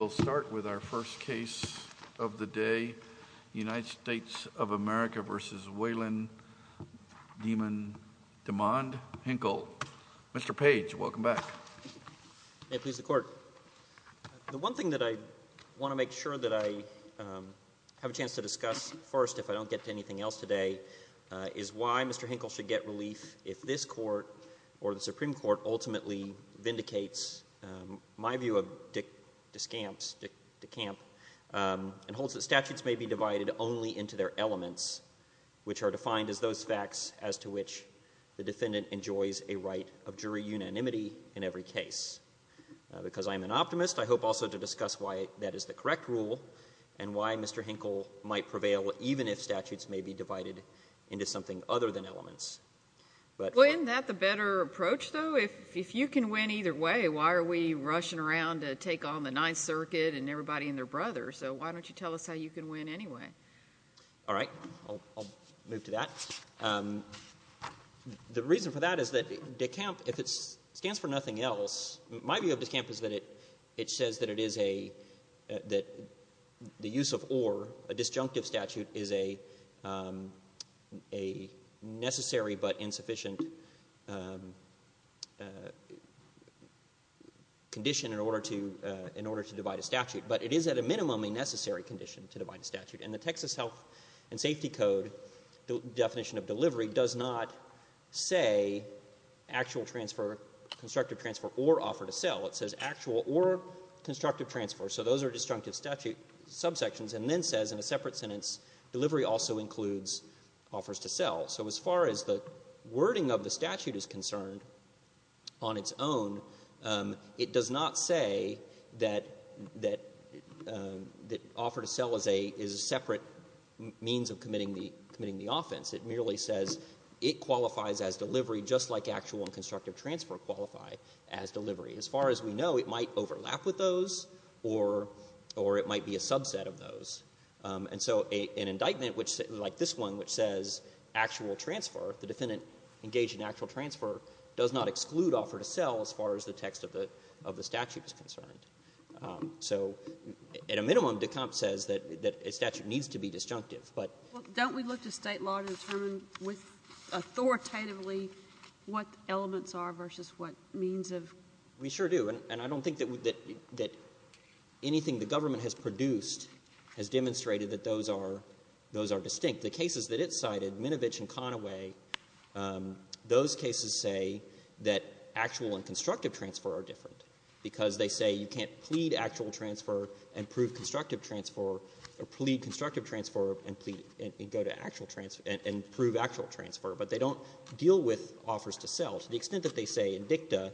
We'll start with our first case of the day, United States of America v. Wayland Demond Hinkle. Mr. Page, welcome back. May it please the Court. The one thing that I want to make sure that I have a chance to discuss first, if I don't get to anything else today, is why Mr. Hinkle should get relief if this Court or the Supreme Court ultimately vindicates my view of Dick DeCamp and holds that statutes may be divided only into their elements, which are defined as those facts as to which the defendant enjoys a right of jury unanimity in every case. Because I am an optimist, I hope also to discuss why that is the correct rule and why Mr. Hinkle might prevail even if statutes may be divided into something other than elements. Well, isn't that the better approach, though? If you can win either way, why are we rushing around to take on the Ninth Circuit and everybody and their brother? So why don't you tell us how you can win anyway? All right. I'll move to that. The reason for that is that DeCamp, if it stands for nothing else, my view of DeCamp is that it says that the use of or, a disjunctive statute, is a necessary but insufficient condition in order to divide a statute. But it is at a minimum a necessary condition to divide a statute. And the Texas Health and Safety Code definition of delivery does not say actual transfer, constructive transfer, or offer to sell. It says actual or constructive transfer. So those are disjunctive statute subsections and then says in a separate sentence, delivery also includes offers to sell. So as far as the wording of the statute is concerned on its own, it does not say that offer to sell is a separate means of committing the offense. It merely says it qualifies as delivery just like actual and constructive transfer qualify as delivery. As far as we know, it might overlap with those or it might be a subset of those. And so an indictment like this one which says actual transfer, the defendant engaged in actual transfer, does not exclude offer to sell as far as the text of the statute is concerned. So at a minimum, DeCamp says that a statute needs to be disjunctive. But don't we look to State law to determine authoritatively what elements are versus what means of? We sure do. And I don't think that anything the government has produced has demonstrated that those are distinct. The cases that it cited, Minovich and Conaway, those cases say that actual and constructive transfer are different. Because they say you can't plead actual transfer and prove constructive transfer, or plead constructive transfer and prove actual transfer. But they don't deal with offers to sell to the extent that they say in dicta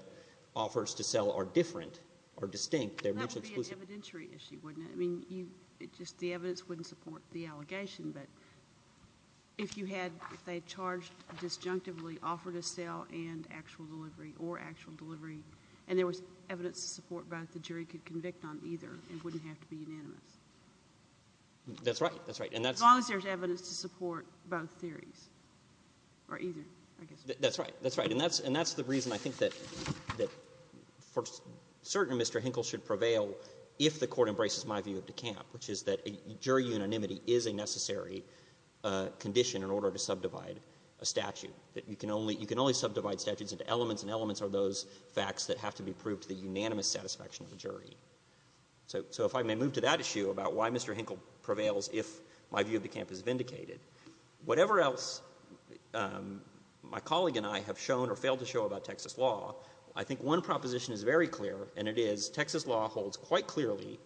offers to sell are different or distinct. They're mutually exclusive. That would be an evidentiary issue, wouldn't it? I mean, just the evidence wouldn't support the allegation. But if you had, if they charged disjunctively offer to sell and actual delivery or actual delivery, and there was evidence to support both, the jury could convict on either. It wouldn't have to be unanimous. That's right. That's right. As long as there's evidence to support both theories, or either, I guess. That's right. That's right. And that's the reason I think that for certain Mr. Hinkle should prevail if the Court embraces my view of De Camp, which is that jury unanimity is a necessary condition in order to subdivide a statute. You can only subdivide statutes into elements, and elements are those facts that have to be proved to the unanimous satisfaction of the jury. So if I may move to that issue about why Mr. Hinkle prevails if my view of De Camp is vindicated, whatever else my colleague and I have shown or failed to show about Texas law, I think one proposition is very clear, and it is Texas law holds quite clearly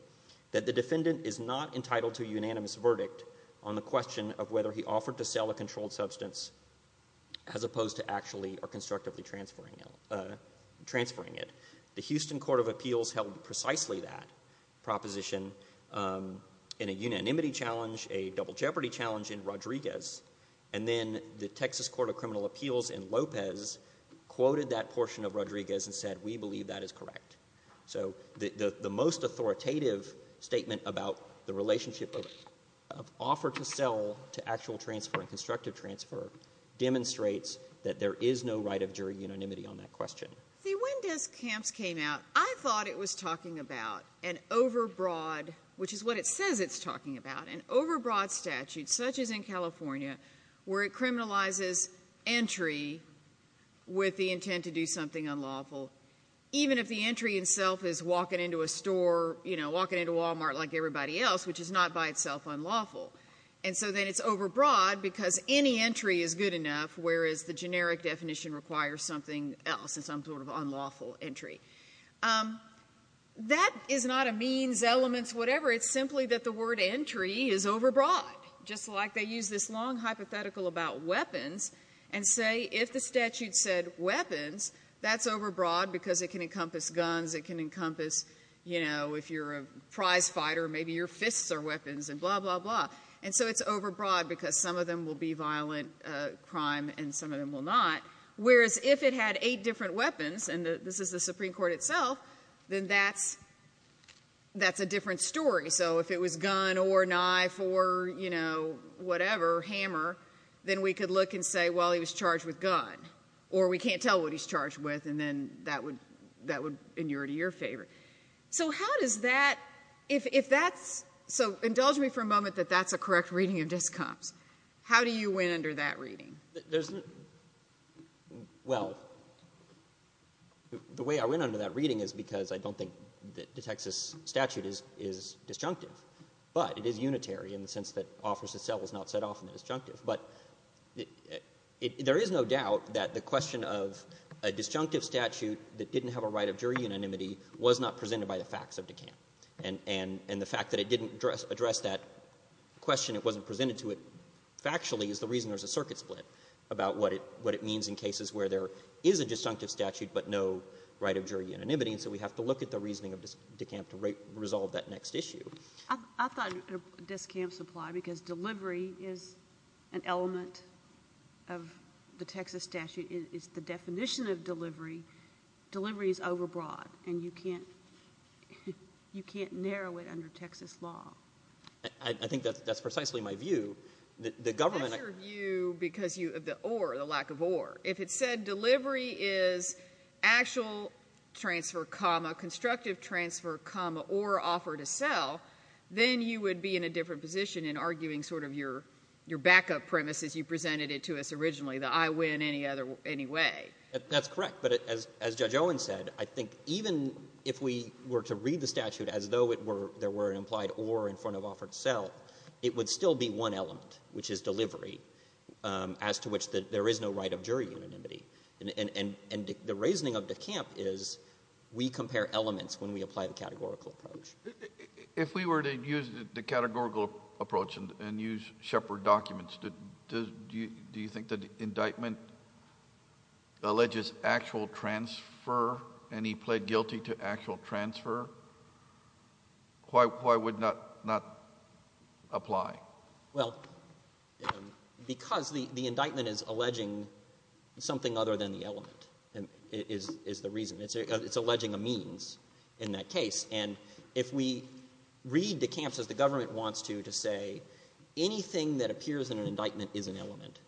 that the defendant is not entitled to a unanimous verdict on the question of whether he offered to sell a controlled substance as opposed to actually or constructively transferring it. The Houston Court of Appeals held precisely that proposition in a unanimity challenge, a double jeopardy challenge in Rodriguez, and then the Texas Court of Criminal Appeals in Lopez quoted that portion of Rodriguez and said we believe that is correct. So the most authoritative statement about the relationship of offer to sell to actual transfer and constructive transfer demonstrates that there is no right of jury unanimity on that question. See, when De Camp's came out, I thought it was talking about an overbroad, which is what it says it's talking about, an overbroad statute such as in California where it criminalizes entry with the intent to do something unlawful, even if the entry itself is walking into a store, you know, walking into Wal-Mart like everybody else, which is not by itself unlawful. And so then it's overbroad because any entry is good enough, whereas the generic definition requires something else, some sort of unlawful entry. That is not a means, elements, whatever. It's simply that the word entry is overbroad, just like they use this long hypothetical about weapons and say if the statute said weapons, that's overbroad because it can encompass guns, it can encompass, you know, if you're a prize fighter, maybe your fists are weapons and blah, blah, blah. And so it's overbroad because some of them will be violent crime and some of them will not, whereas if it had eight different weapons, and this is the Supreme Court itself, then that's a different story. So if it was gun or knife or, you know, whatever, hammer, then we could look and say, well, he was charged with gun, or we can't tell what he's charged with, and then that would inure to your favor. So how does that, if that's, so indulge me for a moment that that's a correct reading of DISCOMPS, how do you win under that reading? There's, well, the way I win under that reading is because I don't think that the Texas statute is disjunctive, but it is unitary in the sense that offers itself is not set off in the disjunctive. But there is no doubt that the question of a disjunctive statute that didn't have a right of jury unanimity was not presented by the facts of DICOMPS. And the fact that it didn't address that question, it wasn't presented to it factually, is the reason there's a circuit split about what it means in cases where there is a disjunctive statute but no right of jury unanimity, and so we have to look at the reasoning of DICOMPS to resolve that next issue. I thought DISCOMPS applied because delivery is an element of the Texas statute. It's the definition of delivery. Delivery is overbroad, and you can't, you can't narrow it under Texas law. I think that's precisely my view. The government... That's your view because you, the or, the lack of or. If it said delivery is actual transfer, comma, constructive transfer, comma, or offer to sell, then you would be in a different position in arguing sort of your, your backup premise as you presented it to us originally, the I win any other, any way. That's correct, but as Judge Owen said, I think even if we were to read the statute as though it were, there were an implied or in front of offer to sell, it would still be one element, which is delivery, as to which there is no right of jury unanimity. And the reasoning of DICOMPS is we compare elements when we apply the categorical approach. If we were to use the categorical approach and use Shepard documents, do you think that indictment alleges actual transfer and he pled guilty to actual transfer? Why, why would not, not apply? Well, because the, the indictment is alleging something other than the element is, is the reason. It's, it's alleging a means in that case. And if we read DICOMPS as the government wants to, to say anything that appears in an indictment is an element,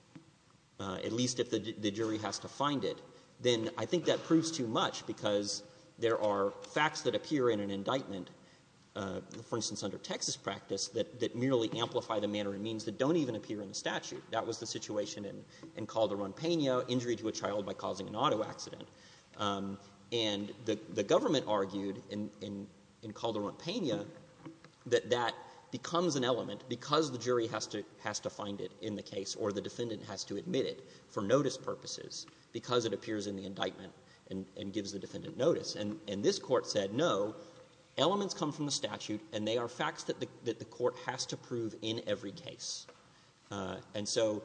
at least if the jury has to find it, then I think that proves too much because there are facts that appear in an indictment, for instance, under Texas practice, that, that merely amplify the manner and means that don't even appear in the statute. That was the situation in, in Calderon-Pena, injury to a child by causing an auto accident. And the, the government argued in, in, in Calderon-Pena that that becomes an element because the jury has to, has to find it in the case or the defendant has to admit it for notice purposes because it appears in the indictment and, and gives the defendant notice. And, and this Court said no, elements come from the statute and they are facts that the, that the Court has to prove in every case. And so,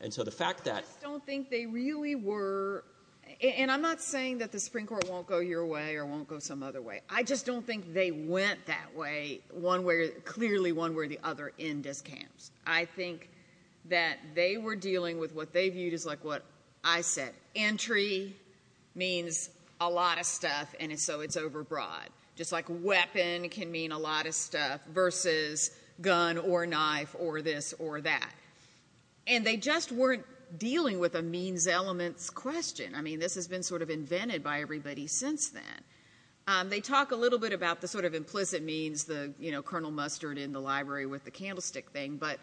and so the fact that. I just don't think they really were, and I'm not saying that the Supreme Court won't go your way or won't go some other way. I just don't think they went that way one way, clearly one way or the other in DICOMPS. I think that they were dealing with what they viewed as like what I said. Entry means a lot of stuff and so it's over broad. Just like weapon can mean a lot of stuff versus gun or knife or this or that. And they just weren't dealing with a means elements question. I mean, this has been sort of invented by everybody since then. They talk a little bit about the sort of implicit means the, you know, Colonel Mustard in the library with the candlestick thing, but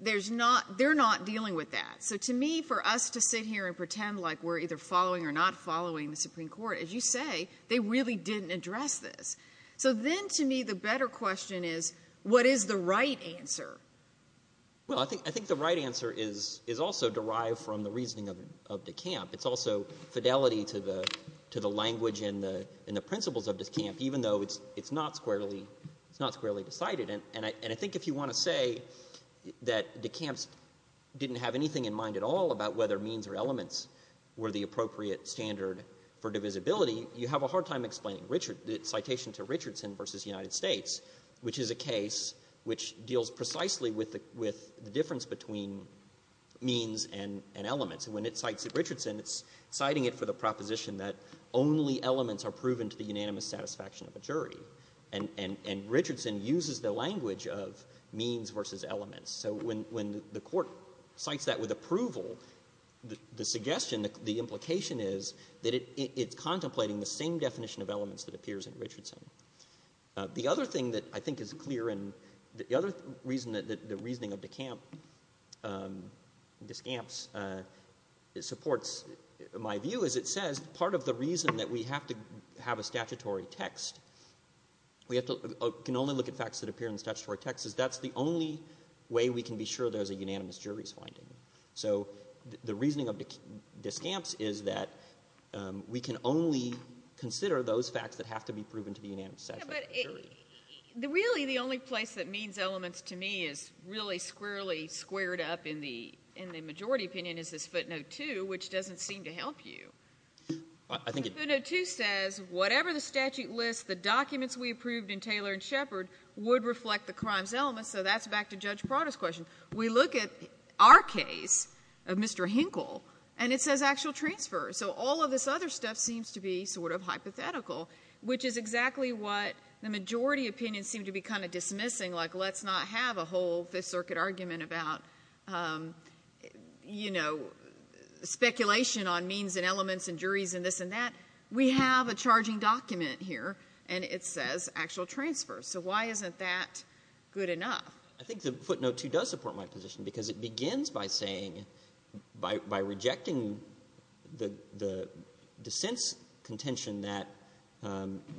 there's not, they're not dealing with that. So to me, for us to sit here and pretend like we're either following or not following the Supreme Court, as you say, they really didn't address this. So then to me, the better question is, what is the right answer? Well, I think, I think the right answer is, is also derived from the reasoning of, of DICOMPS. It's also fidelity to the, to the language and the, and the principles of DICOMPS, even though it's, it's not squarely, it's not squarely decided. And I, and I think if you want to say that DICOMPS didn't have anything in mind at all about whether means or elements were the appropriate standard for divisibility, you have a hard time explaining Richard, citation to Richardson versus United States, which is a case which deals precisely with the, with the difference between means and, and elements. And when it cites at Richardson, it's citing it for the proposition that only elements are proven to the unanimous satisfaction of a jury. And, and, and Richardson uses the language of means versus elements. So when, when the court cites that with approval, the, the suggestion, the implication is that it, it's contemplating the same definition of elements that appears in Richardson. The other thing that I think is clear and the other reason that, that the reasoning of DICOMPS, DICOMPS supports my view is it says part of the reason that we have to have a statutory text, we have to, can only look at facts that appear in the statutory text, is that's the only way we can be sure there's a unanimous jury's finding. So the reasoning of DICOMPS is that we can only consider those facts that have to be proven to the unanimous satisfaction of a jury. Yeah, but it, really the only place that means elements to me is really squarely squared up in the, in the majority opinion is this footnote 2, which doesn't seem to help you. I, I think it. Footnote 2 says whatever the statute lists, the documents we approved in Taylor and Shepard would reflect the crimes elements. So that's back to Judge Prada's question. We look at our case of Mr. Hinkle, and it says actual transfer. So all this other stuff seems to be sort of hypothetical, which is exactly what the majority opinion seemed to be kind of dismissing, like let's not have a whole Fifth Circuit argument about, you know, speculation on means and elements and juries and this and that. We have a charging document here, and it says actual transfer. So why isn't that good enough? I think the footnote 2 does support my position because it begins by saying, by, by rejecting the, the dissent's contention that,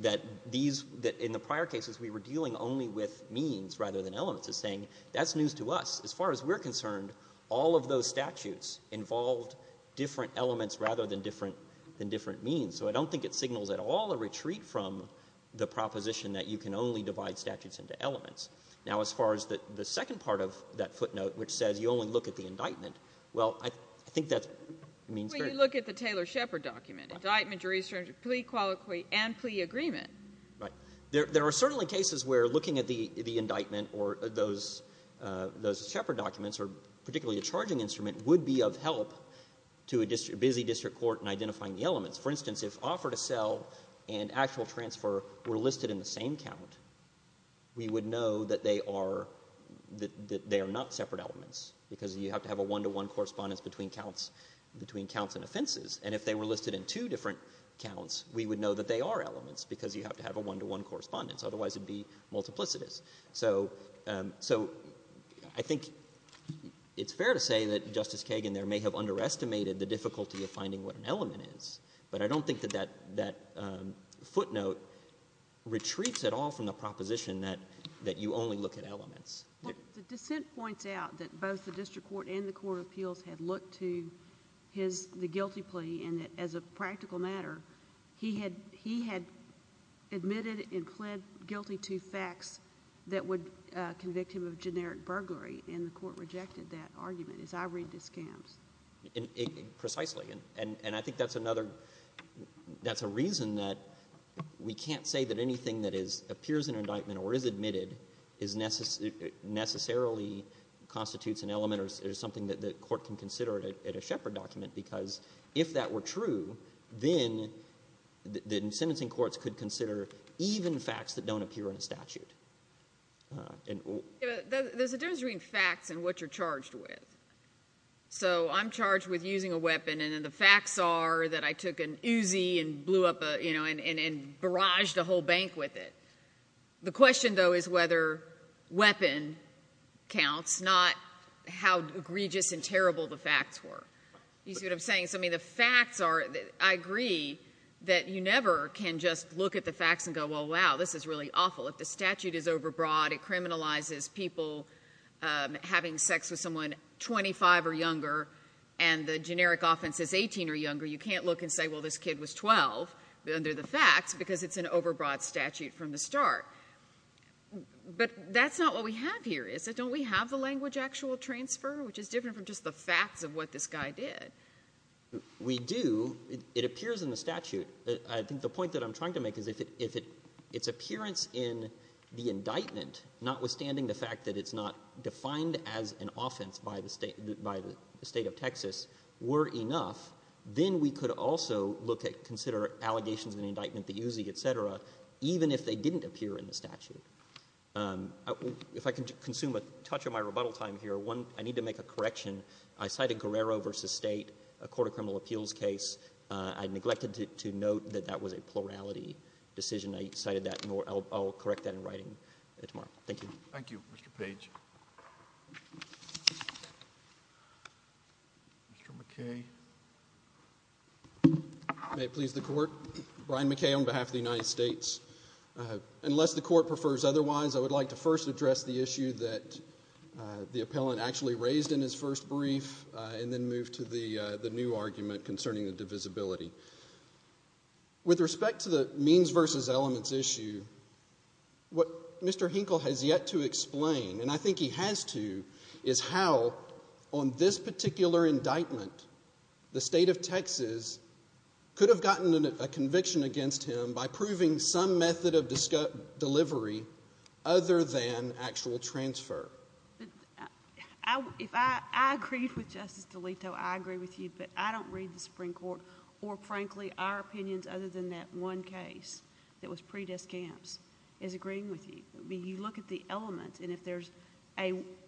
that these, that in the prior cases we were dealing only with means rather than elements. It's saying that's news to us. As far as we're concerned, all of those statutes involved different elements rather than different, than different means. So I don't think it signals at all a retreat from the proposition that you can only divide statutes into elements. Now, as far as the second part of that footnote, which says you only look at the indictment, well, I think that means great. But you look at the Taylor-Shepard document. Indictment, jurisdiction, plea, qualiquy, and plea agreement. Right. There are certainly cases where looking at the indictment or those, those Shepard documents, or particularly a charging instrument, would be of help to a busy district court in identifying the elements. For instance, if offer to sell and actual transfer were listed in the same count, we would know that they are, that they are not separate elements, because you have to have a one-to-one correspondence between counts, between counts and offenses. And if they were listed in two different counts, we would know that they are elements, because you have to have a one-to-one correspondence. Otherwise it would be multiplicitous. So, so I think it's fair to say that Justice Kagan there may have underestimated the difficulty of finding what an element is. But I don't think that that, that footnote retreats at all from the proposition that, that you only look at elements. Well, the dissent points out that both the district court and the court of appeals had looked to his, the guilty plea, and that as a practical matter, he had, he had admitted and pled guilty to facts that would convict him of generic burglary. And the court rejected that argument, as I read the scams. Precisely. And, and I think that's another, that's a reason that we can't say that anything that is, appears in an indictment or is admitted is necessarily, necessarily constitutes an element or is something that the court can consider at a, at a Shepard document, because if that were true, then, then sentencing courts could consider even facts that don't appear in a statute. There's a difference between facts and what you're charged with. So, I'm charged with using a weapon and the facts are that I took an Uzi and blew up a, you know, and, and barraged a whole bank with it. The question though is whether weapon counts, not how egregious and terrible the facts were. You see what I'm saying? So, I mean, the facts are, I agree that you never can just look at the facts and go, well, wow, this is really awful. If the statute is overbroad, it criminalizes people having sex with someone 25 or younger and the generic offense is 18 or younger, you can't look and say, well, this kid was 12 under the facts because it's an overbroad statute from the start. But that's not what we have here, is it? Don't we have the language actual transfer, which is different from just the facts of what this guy did? We do. It appears in the statute. I think the point that I'm trying to make is that if its appearance in the indictment, notwithstanding the fact that it's not defined as an offense by the State of Texas, were enough, then we could also look at, consider allegations in the indictment, the Uzi, et cetera, even if they didn't appear in the statute. If I can consume a touch of my rebuttal time here, one, I need to make a correction. I cited Guerrero v. State, a court of criminal appeals case. I neglected to note that that was a plurality decision. I cited that, and I'll correct that in writing tomorrow. Thank you. Thank you, Mr. Page. Mr. McKay. May it please the Court. Brian McKay on behalf of the United States. Unless the Court prefers otherwise, I would like to first address the issue that the appellant actually raised in his first brief and then move to the new argument concerning the divisibility. With respect to the means versus elements issue, what Mr. Hinkle has yet to explain, and I think he has to, is how, on this particular indictment, the State of Texas could have gotten a conviction against him by proving some method of delivery other than actual transfer. If I agreed with Justice DeLitto, I agree with you, but I don't read the Supreme Court or, frankly, our opinions other than that one case that was pre-discounts is agreeing with you. You look at the element, and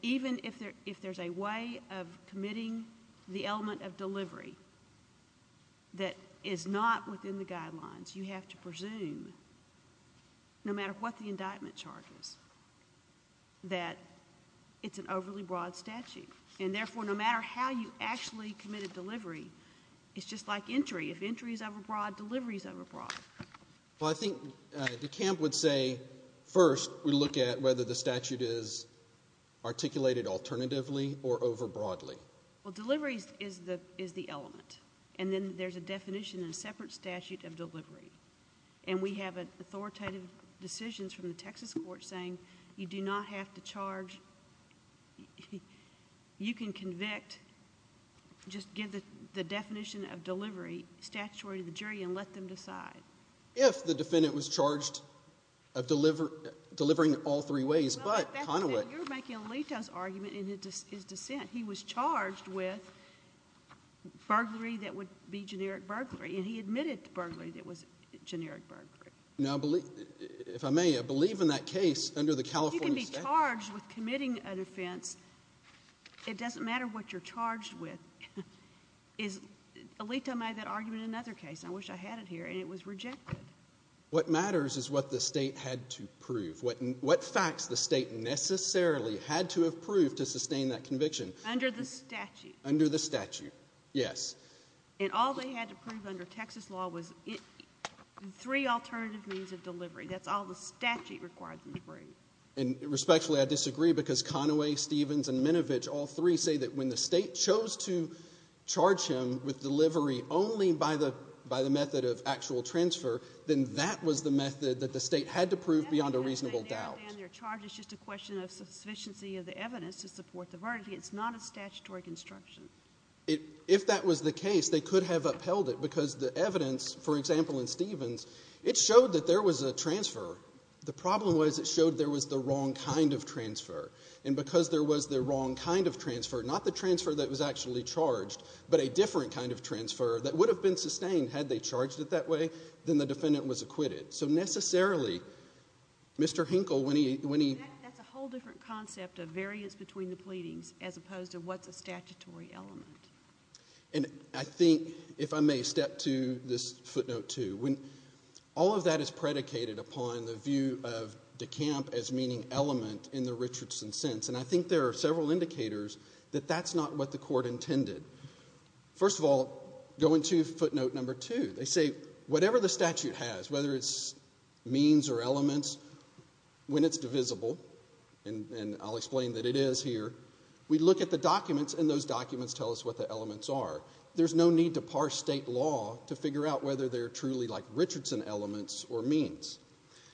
even if there's a way of committing the element of delivery that is not within the guidelines, you have to presume, no matter what the statute, it's an overly broad statute. And, therefore, no matter how you actually commit a delivery, it's just like entry. If entry is overbroad, delivery is overbroad. Well, I think DeKalb would say first we look at whether the statute is articulated alternatively or overbroadly. Well, delivery is the element, and then there's a definition in a separate statute of delivery. And we have authoritative decisions from the Texas court saying you do not have to you can convict, just give the definition of delivery statutory to the jury and let them decide. If the defendant was charged of delivering all three ways, but Conaway You're making DeLitto's argument in his dissent. He was charged with burglary that would be generic burglary, and he admitted to burglary that was generic burglary. Now, if I may, I believe in that case under the California statute If you can be charged with committing an offense, it doesn't matter what you're charged with. DeLitto made that argument in another case. I wish I had it here, and it was rejected. What matters is what the state had to prove. What facts the state necessarily had to have proved to sustain that conviction Under the statute. Under the statute, yes. And all they had to prove under Texas law was three alternative means of delivery. That's all the statute required them to prove. And respectfully, I disagree, because Conaway, Stevens, and Minovich, all three say that when the state chose to charge him with delivery only by the method of actual transfer, then that was the method that the state had to prove beyond a reasonable doubt. Their charge is just a question of sufficiency of the evidence to support the verdict. It's not a statutory construction. If that was the case, they could have upheld it, because the evidence, for example, in Stevens, it showed that there was a transfer. The problem was it showed there was the wrong kind of transfer. And because there was the wrong kind of transfer, not the transfer that was actually charged, but a different kind of transfer that would have been sustained had they charged it that way, then the defendant was acquitted. So necessarily, Mr. Hinkle, when he That's a whole different concept of variance between the pleadings as opposed to what's a statutory element. And I think, if I may, step to this footnote, too. All of that is predicated upon the view of decamp as meaning element in the Richardson sense. And I think there are several indicators that that's not what the court intended. First of all, going to footnote number two, they say whatever the statute has, whether it's means or elements, when it's divisible, and I'll explain that it is here, we look at the documents, and those documents tell us what the elements are. There's no need to parse state law to figure out whether they're truly like Richardson elements or means.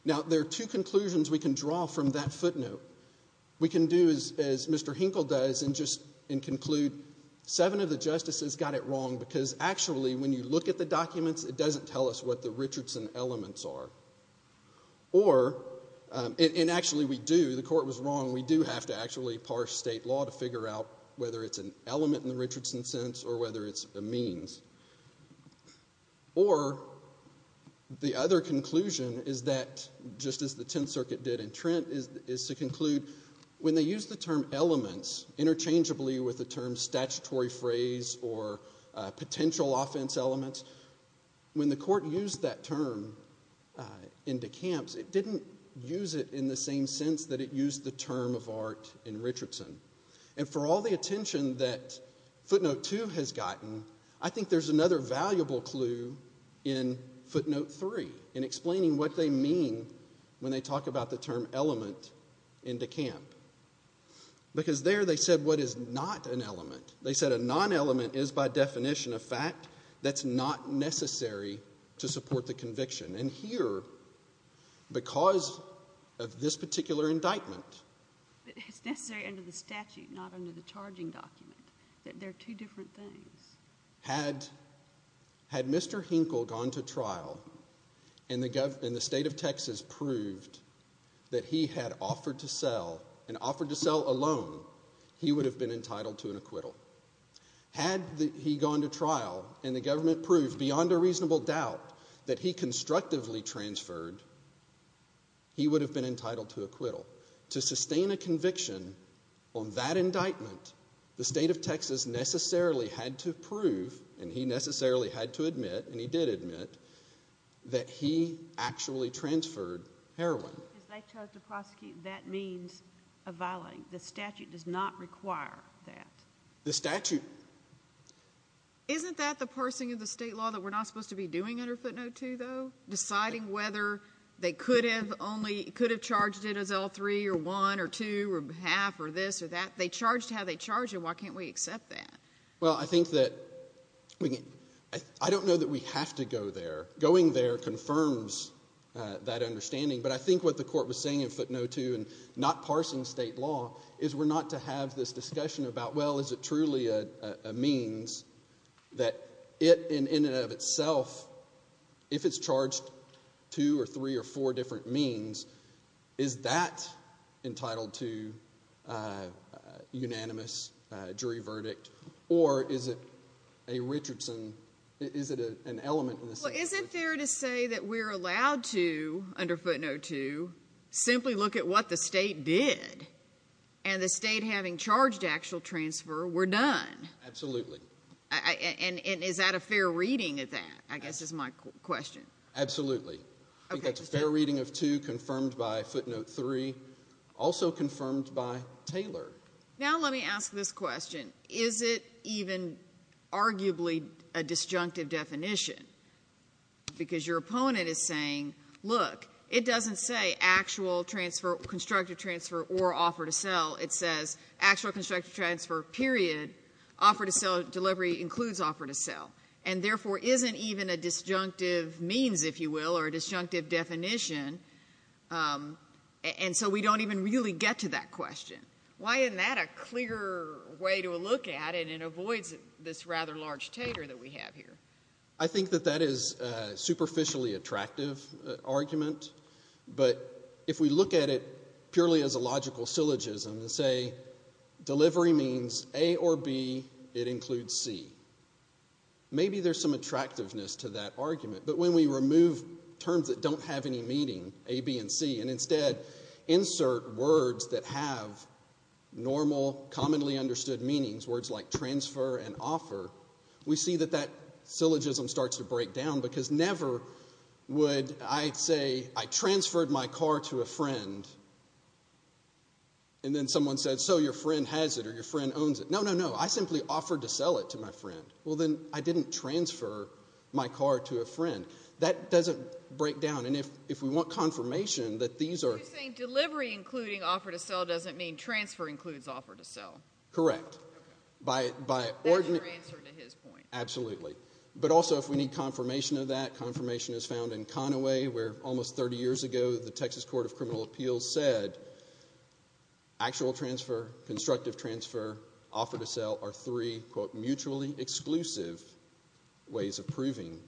Now, there are two conclusions we can draw from that footnote. We can do, as Mr. Hinkle does, and conclude seven of the justices got it wrong because, actually, when you look at the documents, it doesn't tell us what the Richardson elements are. Or, and actually we do, the court was wrong, we do have to actually parse state law to figure out whether it's an element in the Richardson sense or whether it's a means. Or, the other conclusion is that, just as the Tenth Circuit did in Trent, is to conclude when they use the term elements interchangeably with the term statutory phrase or potential offense elements, when the court used that term in decamps, it didn't. And for all the attention that footnote two has gotten, I think there's another valuable clue in footnote three in explaining what they mean when they talk about the term element in decamp. Because there they said what is not an element. They said a non-element is, by definition, a fact that's not necessary to support the conviction. And here, because of this particular indictment. It's necessary under the statute, not under the charging document. They're two different things. Had Mr. Hinkle gone to trial and the state of Texas proved that he had offered to sell, and offered to sell alone, he would have been entitled to an acquittal. Had he gone to trial and the government proved, beyond a reasonable doubt, that he had instructively transferred, he would have been entitled to acquittal. To sustain a conviction on that indictment, the state of Texas necessarily had to prove, and he necessarily had to admit, and he did admit, that he actually transferred heroin. If they chose to prosecute, that means a violating. The statute does not require that. The statute... Isn't that the parsing of the state law that we're not supposed to be doing under footnote two, though? Deciding whether they could have charged it as L3 or 1 or 2 or half or this or that. They charged how they charged it. Why can't we accept that? Well, I think that... I don't know that we have to go there. Going there confirms that understanding. But I think what the court was saying in footnote two, and not parsing state law, is we're not to have this discussion about, well, is it truly a means that it, in and of itself, if it's charged two or three or four different means, is that entitled to unanimous jury verdict? Or is it a Richardson... Is it an element in the statute? Well, is it fair to say that we're allowed to, under footnote two, simply look at what the state did, and the state having charged actual transfer, we're done? Absolutely. And is that a fair reading of that, I guess is my question. Absolutely. I think that's a fair reading of two confirmed by footnote three, also confirmed by Taylor. Now let me ask this question. Is it even arguably a disjunctive definition? Because your opponent is saying, look, it doesn't say actual transfer, constructive transfer, or offer to sell. It says actual constructive transfer, period. Offer to sell, delivery includes offer to sell. And, therefore, isn't even a disjunctive means, if you will, or a disjunctive definition. And so we don't even really get to that question. Why isn't that a clear way to look at it, and avoids this rather large tater that we have here? I think that that is a superficially attractive argument. But if we look at it purely as a logical syllogism and say, delivery means A or B, it includes C. Maybe there's some attractiveness to that argument. But when we remove terms that don't have any meaning, A, B, and C, and offer, we see that that syllogism starts to break down. Because never would I say, I transferred my car to a friend, and then someone said, so your friend has it, or your friend owns it. No, no, no. I simply offered to sell it to my friend. Well, then I didn't transfer my car to a friend. That doesn't break down. And if we want confirmation that these are. You're saying delivery including offer to sell doesn't mean transfer includes offer to sell. Correct. That's your answer to his point. Absolutely. But also, if we need confirmation of that, confirmation is found in Conaway, where almost 30 years ago, the Texas Court of Criminal Appeals said, actual transfer, constructive transfer, offer to sell are three, quote, mutually exclusive ways of proving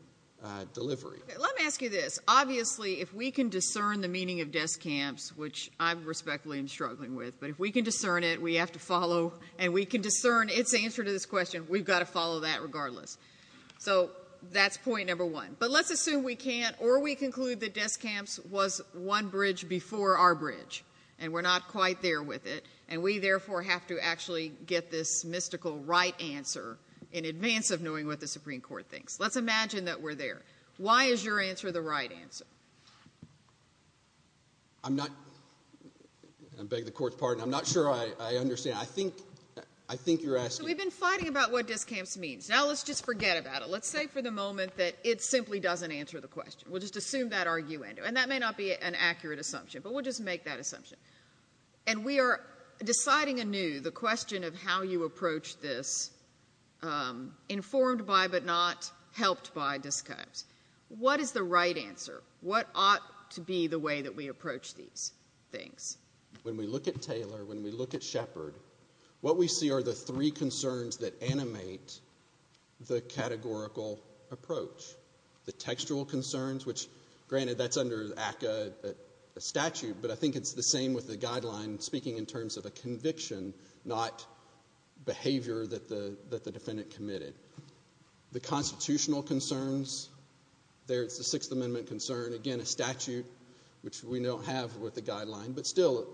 delivery. Let me ask you this. Obviously, if we can discern the meaning of desk camps, which I respectfully am struggling with, but if we can discern it, we have to follow. And we can discern its answer to this question. We've got to follow that regardless. So that's point number one. But let's assume we can't, or we conclude that desk camps was one bridge before our bridge. And we're not quite there with it. And we, therefore, have to actually get this mystical right answer in advance of knowing what the Supreme Court thinks. Let's imagine that we're there. Why is your answer the right answer? I'm not going to beg the court's pardon. I'm not sure I understand. I think you're asking. So we've been fighting about what desk camps means. Now let's just forget about it. Let's say for the moment that it simply doesn't answer the question. We'll just assume that argument. And that may not be an accurate assumption. But we'll just make that assumption. And we are deciding anew the question of how you approach this, informed by but not helped by desk camps. What is the right answer? What ought to be the way that we approach these things? When we look at Taylor, when we look at Shepard, what we see are the three concerns that animate the categorical approach. The textual concerns, which, granted, that's under ACCA statute. But I think it's the same with the guideline speaking in terms of a conviction, not behavior that the defendant committed. The constitutional concerns, there's the Sixth Amendment concern. Again, a statute, which we don't have with the guideline. But still,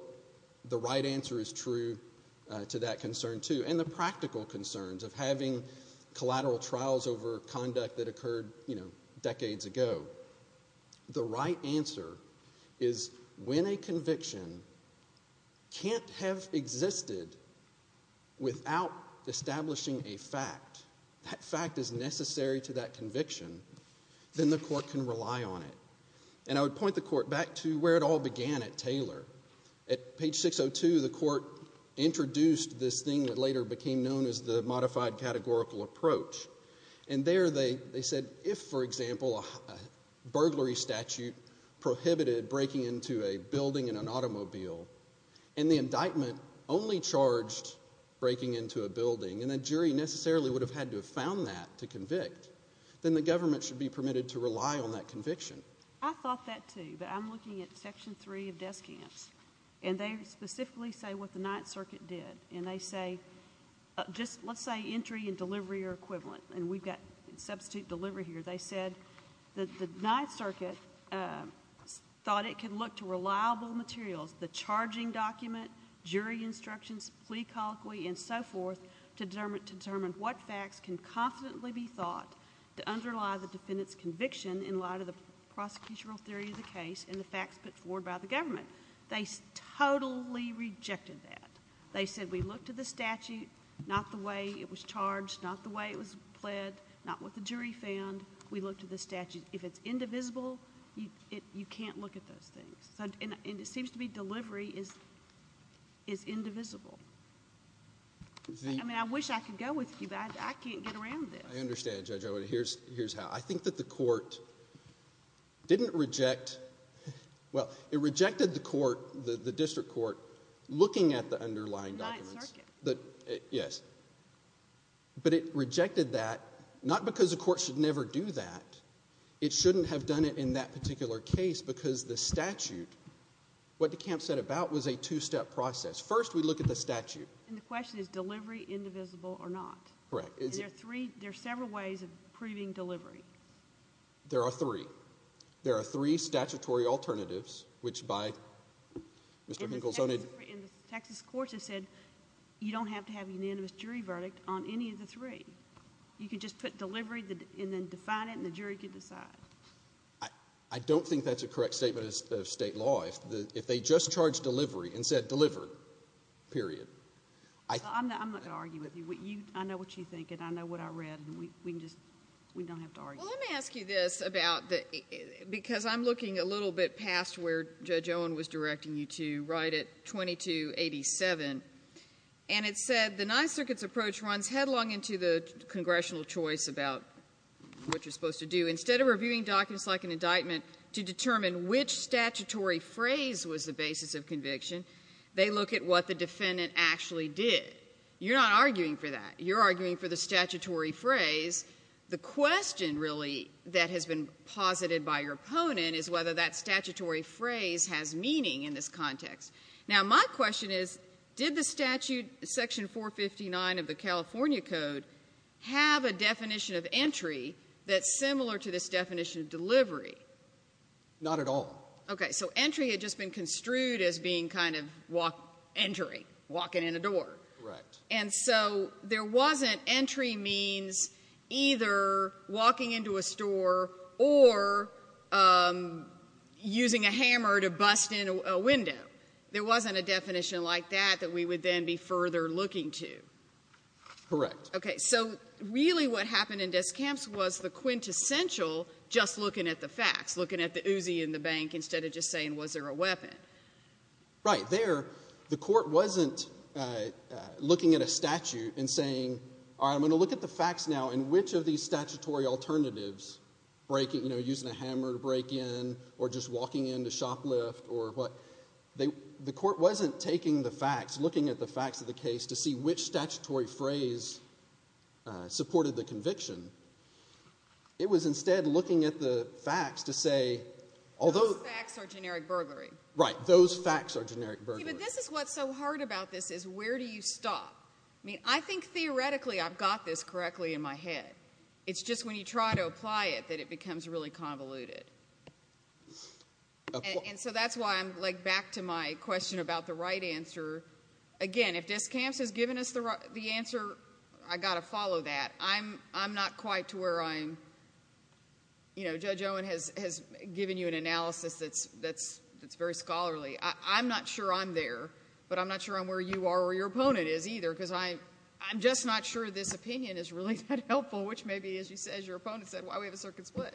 the right answer is true to that concern, too. And the practical concerns of having collateral trials over conduct that occurred, you know, decades ago. The right answer is when a conviction can't have existed without establishing a fact. That fact is necessary to that conviction. Then the court can rely on it. And I would point the court back to where it all began at Taylor. At page 602, the court introduced this thing that later became known as the modified categorical approach. And there they said, if, for example, a burglary statute prohibited breaking into a building in an automobile, and the indictment only charged breaking into a building, and a jury necessarily would have had to have found that to convict, then the government should be permitted to rely on that conviction. I thought that, too. But I'm looking at Section 3 of desk camps. And they specifically say what the Ninth Circuit did. And they say, just let's say entry and delivery are equivalent. And we've got substitute delivery here. They said that the Ninth Circuit thought it could look to reliable materials, the charging document, jury instructions, plea colloquy, and so forth, to determine what facts can confidently be thought to underlie the defendant's conviction in light of the prosecutorial theory of the case and the facts put forward by the government. They totally rejected that. They said, we looked at the statute, not the way it was charged, not the way it was pled, not what the jury found. We looked at the statute. If it's indivisible, you can't look at those things. And it seems to me delivery is indivisible. I mean, I wish I could go with you, but I can't get around this. I understand, Judge. Here's how. I think that the court didn't reject, well, it rejected the court, the district court, looking at the underlying documents. Ninth Circuit. Yes. But it rejected that, not because the court should never do that. It shouldn't have done it in that particular case, because the statute, what DeKalb said about was a two-step process. First, we look at the statute. And the question is, delivery, indivisible or not? Correct. And there are three, there are several ways of proving delivery. There are three. There are three statutory alternatives, which by Mr. Hinkle's own advice. And the Texas courts have said, you don't have to have a unanimous jury verdict on any of the three. You can just put delivery and then define it, and the jury can decide. I don't think that's a correct statement of state law. If they just charged delivery and said, deliver, period. I'm not going to argue with you. I know what you think, and I know what I read. And we can just, we don't have to argue. Well, let me ask you this about the, because I'm looking a little bit past where Judge Owen was directing you to, right at 2287. And it said, the Ninth Circuit's approach runs headlong into the congressional choice about what you're supposed to do. Instead of reviewing documents like an indictment to determine which statutory phrase was the basis of conviction, they look at what the defendant actually did. You're not arguing for that. You're arguing for the statutory phrase. The question, really, that has been posited by your opponent is whether that statutory phrase has meaning in this context. Now, my question is, did the statute, Section 459 of the California Code, have a definition of entry that's similar to this definition of delivery? Not at all. Okay. So, entry had just been construed as being kind of walk, entering, walking in a door. Correct. And so, there wasn't entry means either walking into a store or using a hammer to bust in a window. There wasn't a definition like that that we would then be further looking to. Correct. Okay. So, really, what happened in desk camps was the quintessential just looking at the facts, looking at the Uzi in the bank instead of just saying, was there a weapon? Right. There, the court wasn't looking at a statute and saying, all right, I'm going to look at the facts now, and which of these statutory alternatives, you know, using a hammer to break in or just walking into shoplift or what. The court wasn't taking the facts, looking at the facts of the case to see which statutory phrase supported the conviction. It was instead looking at the facts to say, although... Those facts are generic burglary. Right. Those facts are generic burglary. Okay. But this is what's so hard about this is where do you stop? I mean, I think theoretically I've got this correctly in my head. It's just when you try to apply it that it becomes really convoluted. And so that's why I'm, like, back to my question about the right answer. Again, if desk camps has given us the answer, I've got to follow that. I'm not quite to where I'm... You know, Judge Owen has given you an analysis that's very scholarly. I'm not sure I'm there, but I'm not sure I'm where you are or your opponent is either, because I'm just not sure this opinion is really that helpful, which may be, as your opponent said, why we have a circuit split.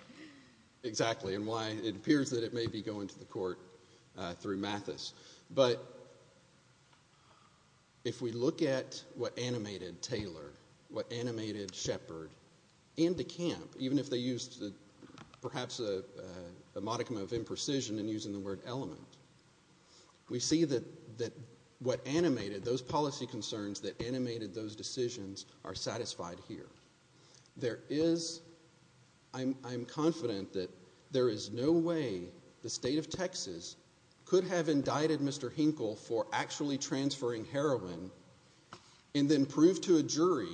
Exactly, and why it appears that it may be going to the court through Mathis. But if we look at what animated Taylor, what animated Shepard into camp, even if they used perhaps a modicum of imprecision in using the word element, we see that what animated those policy concerns that animated those decisions are satisfied here. There is, I'm confident that there is no way the state of Texas could have indicted Mr. Hinkle for actually transferring heroin and then prove to a jury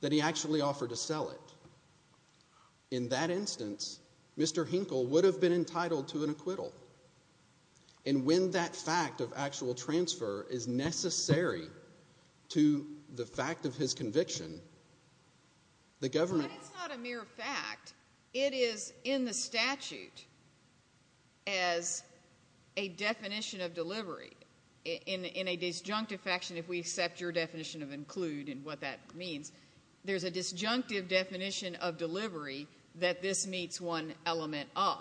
that he actually offered to sell it. In that instance, Mr. Hinkle would have been entitled to an acquittal. And when that fact of actual transfer is necessary to the fact of his conviction, the government... That is not a mere fact. It is in the statute as a definition of delivery. In a disjunctive faction, if we accept your definition of include and what that means, there's a disjunctive definition of delivery that this meets one element of.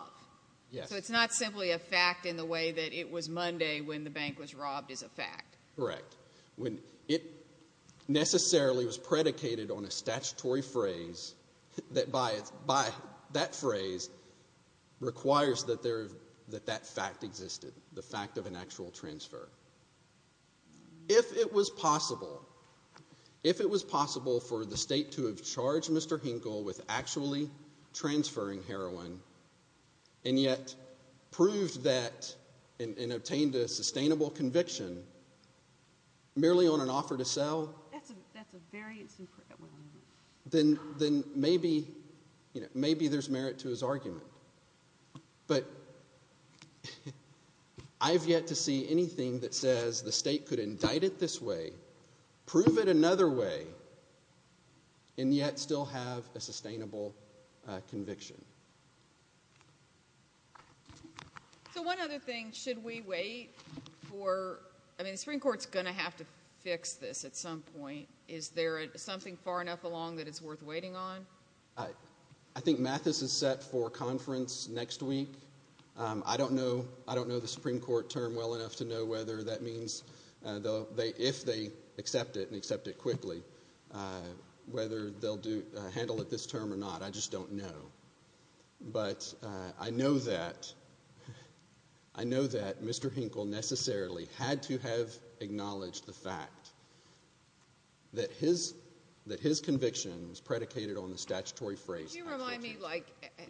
So it's not simply a fact in the way that it was Monday when the bank was robbed is a fact. Correct. It necessarily was predicated on a statutory phrase that by that phrase requires that that fact existed, the fact of an actual transfer. If it was possible, if it was possible for the state to have charged Mr. Hinkle with actually transferring heroin and yet proved that and obtained a sustainable conviction merely on an offer to sell, then maybe there's merit to his argument. But I've yet to see anything that says the state could indict it this way, prove it another way, and yet still have a sustainable conviction. So one other thing, should we wait for... I mean, the Supreme Court's going to have to fix this at some point. Is there something far enough along that it's worth waiting on? I think Mathis is set for conference next week. I don't know the Supreme Court term well enough to know whether that means, if they accept it and accept it quickly, whether they'll handle it this term or not. I just don't know. But I know that Mr. Hinkle necessarily had to have acknowledged the fact that his conviction was predicated on the statutory phrase. Can you remind me, like,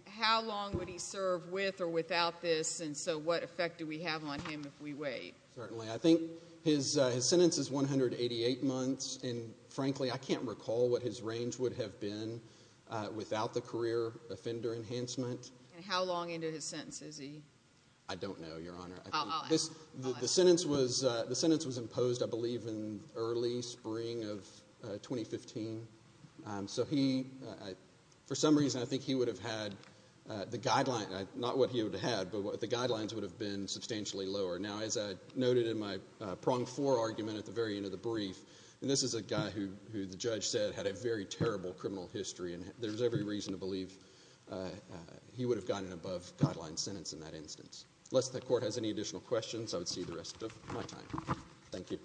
how long would he serve with or without this, and so what effect do we have on him if we wait? Certainly. I think his sentence is 188 months. And frankly, I can't recall what his range would have been without the career offender enhancement. And how long into his sentence is he? I don't know, Your Honor. The sentence was imposed, I believe, in early spring of 2015. So he, for some reason, I think he would have had the guidelines, not what he would have had, but the guidelines would have been substantially lower. Now, as I noted in my prong four argument at the very end of the brief, and this is a guy who the judge said had a very terrible criminal history, and there's every reason to believe he would have gotten an above-guideline sentence in that instance, unless the Court has any additional questions, I would see the rest of my time. Thank you.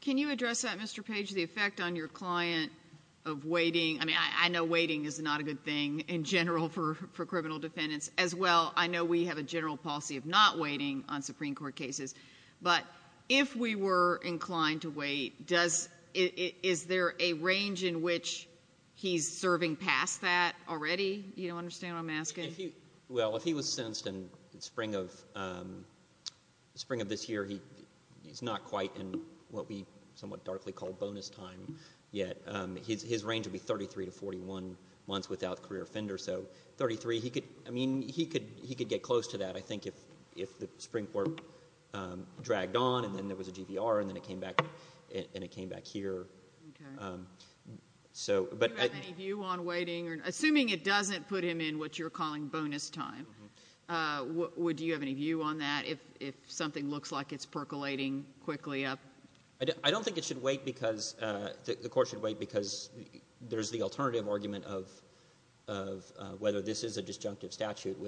Can you address that, Mr. Page, the effect on your client of waiting? I mean, I know waiting is not a good thing in general for criminal defendants. As well, I know we have a general policy of not waiting on Supreme Court cases. But if we were inclined to wait, is there a range in which he's serving past that already? You don't understand what I'm asking? Well, if he was sentenced in spring of this year, he's not quite in what we somewhat darkly call bonus time yet. His range would be 33 to 41 months without career offender. So 33, I mean, he could get close to that, I think, if the Supreme Court dragged on and then there was a GVR and then it came back here. Do you have any view on waiting? Assuming it doesn't put him in what you're calling bonus time, would you have any view on that if something looks like it's percolating quickly up? I don't think the court should wait because there's the alternative argument of whether this is a disjunctive statute.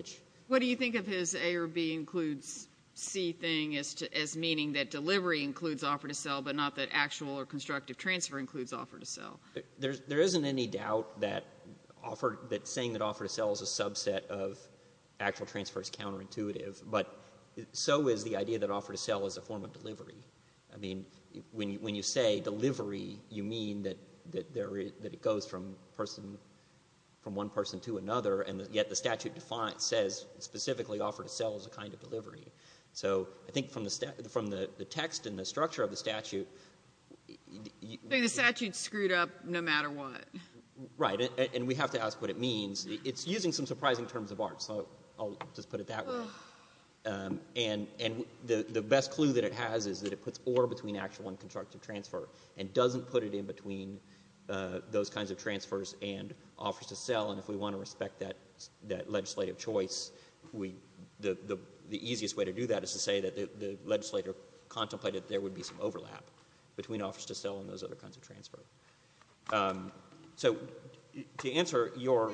What do you think of his A or B includes C thing as meaning that delivery includes offer to sell but not that actual or constructive transfer includes offer to sell? There isn't any doubt that saying that offer to sell is a subset of actual transfer is counterintuitive. But so is the idea that offer to sell is a form of delivery. I mean, when you say delivery, you mean that it goes from one person to another and yet the statute says specifically offer to sell is a kind of delivery. So I think from the text and the structure of the statute. The statute's screwed up no matter what. Right, and we have to ask what it means. It's using some surprising terms of art, so I'll just put it that way. And the best clue that it has is that it puts or between actual and constructive transfer and doesn't put it in between those kinds of transfers and offers to sell. And if we want to respect that legislative choice, the easiest way to do that is to say that the legislator contemplated there would be some overlap between offers to sell and those other kinds of transfer. So to answer your—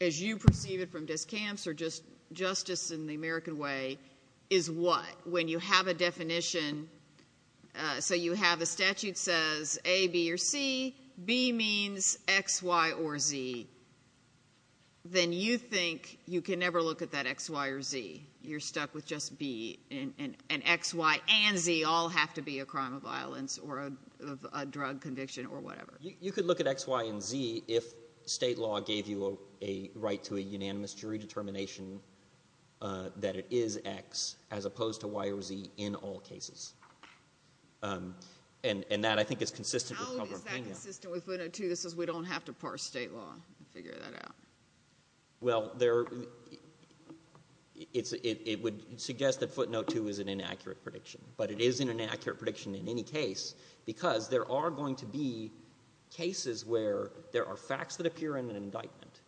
as you perceive it from discamps or just justice in the American way, is what? When you have a definition, so you have the statute says A, B, or C. B means X, Y, or Z. Then you think you can never look at that X, Y, or Z. You're stuck with just B. And X, Y, and Z all have to be a crime of violence or a drug conviction or whatever. You could look at X, Y, and Z if state law gave you a right to a unanimous jury determination that it is X as opposed to Y or Z in all cases. And that, I think, is consistent with— How is that consistent with footnote 2 that says we don't have to parse state law to figure that out? Well, it would suggest that footnote 2 is an inaccurate prediction. But it is an inaccurate prediction in any case because there are going to be cases where there are facts that appear in an indictment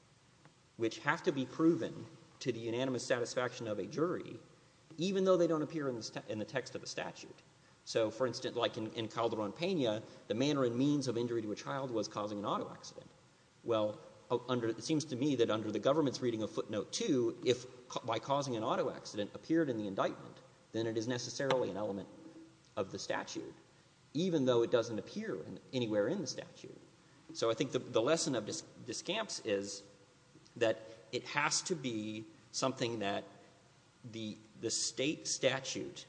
which have to be proven to the unanimous satisfaction of a jury even though they don't appear in the text of a statute. So, for instance, like in Calderón-Pena, the manner and means of injury to a child was causing an auto accident. Well, it seems to me that under the government's reading of footnote 2, if by causing an auto accident appeared in the indictment, then it is necessarily an element of the statute, even though it doesn't appear anywhere in the statute. So I think the lesson of discamps is that it has to be something that the state statute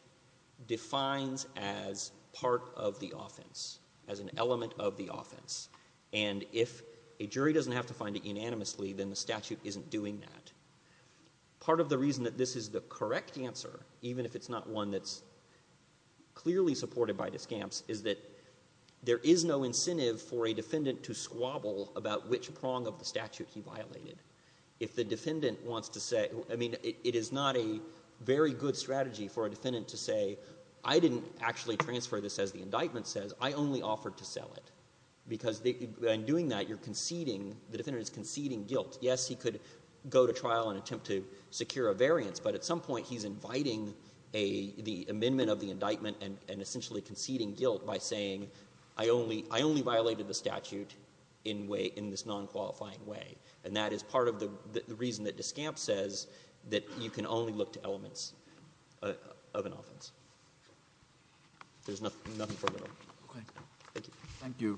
defines as part of the offense, as an element of the offense. And if a jury doesn't have to find it unanimously, then the statute isn't doing that. Part of the reason that this is the correct answer, even if it's not one that's clearly supported by discamps, is that there is no incentive for a defendant to squabble about which prong of the statute he violated. If the defendant wants to say—I mean, it is not a very good strategy for a defendant to say, I didn't actually transfer this as the indictment says. I only offered to sell it. Because in doing that, you're conceding—the defendant is conceding guilt. Yes, he could go to trial and attempt to secure a variance, but at some point he's inviting the amendment of the indictment and essentially conceding guilt by saying, I only violated the statute in this non-qualifying way. And that is part of the reason that discamps says that you can only look to elements of an offense. There's nothing further. Thank you.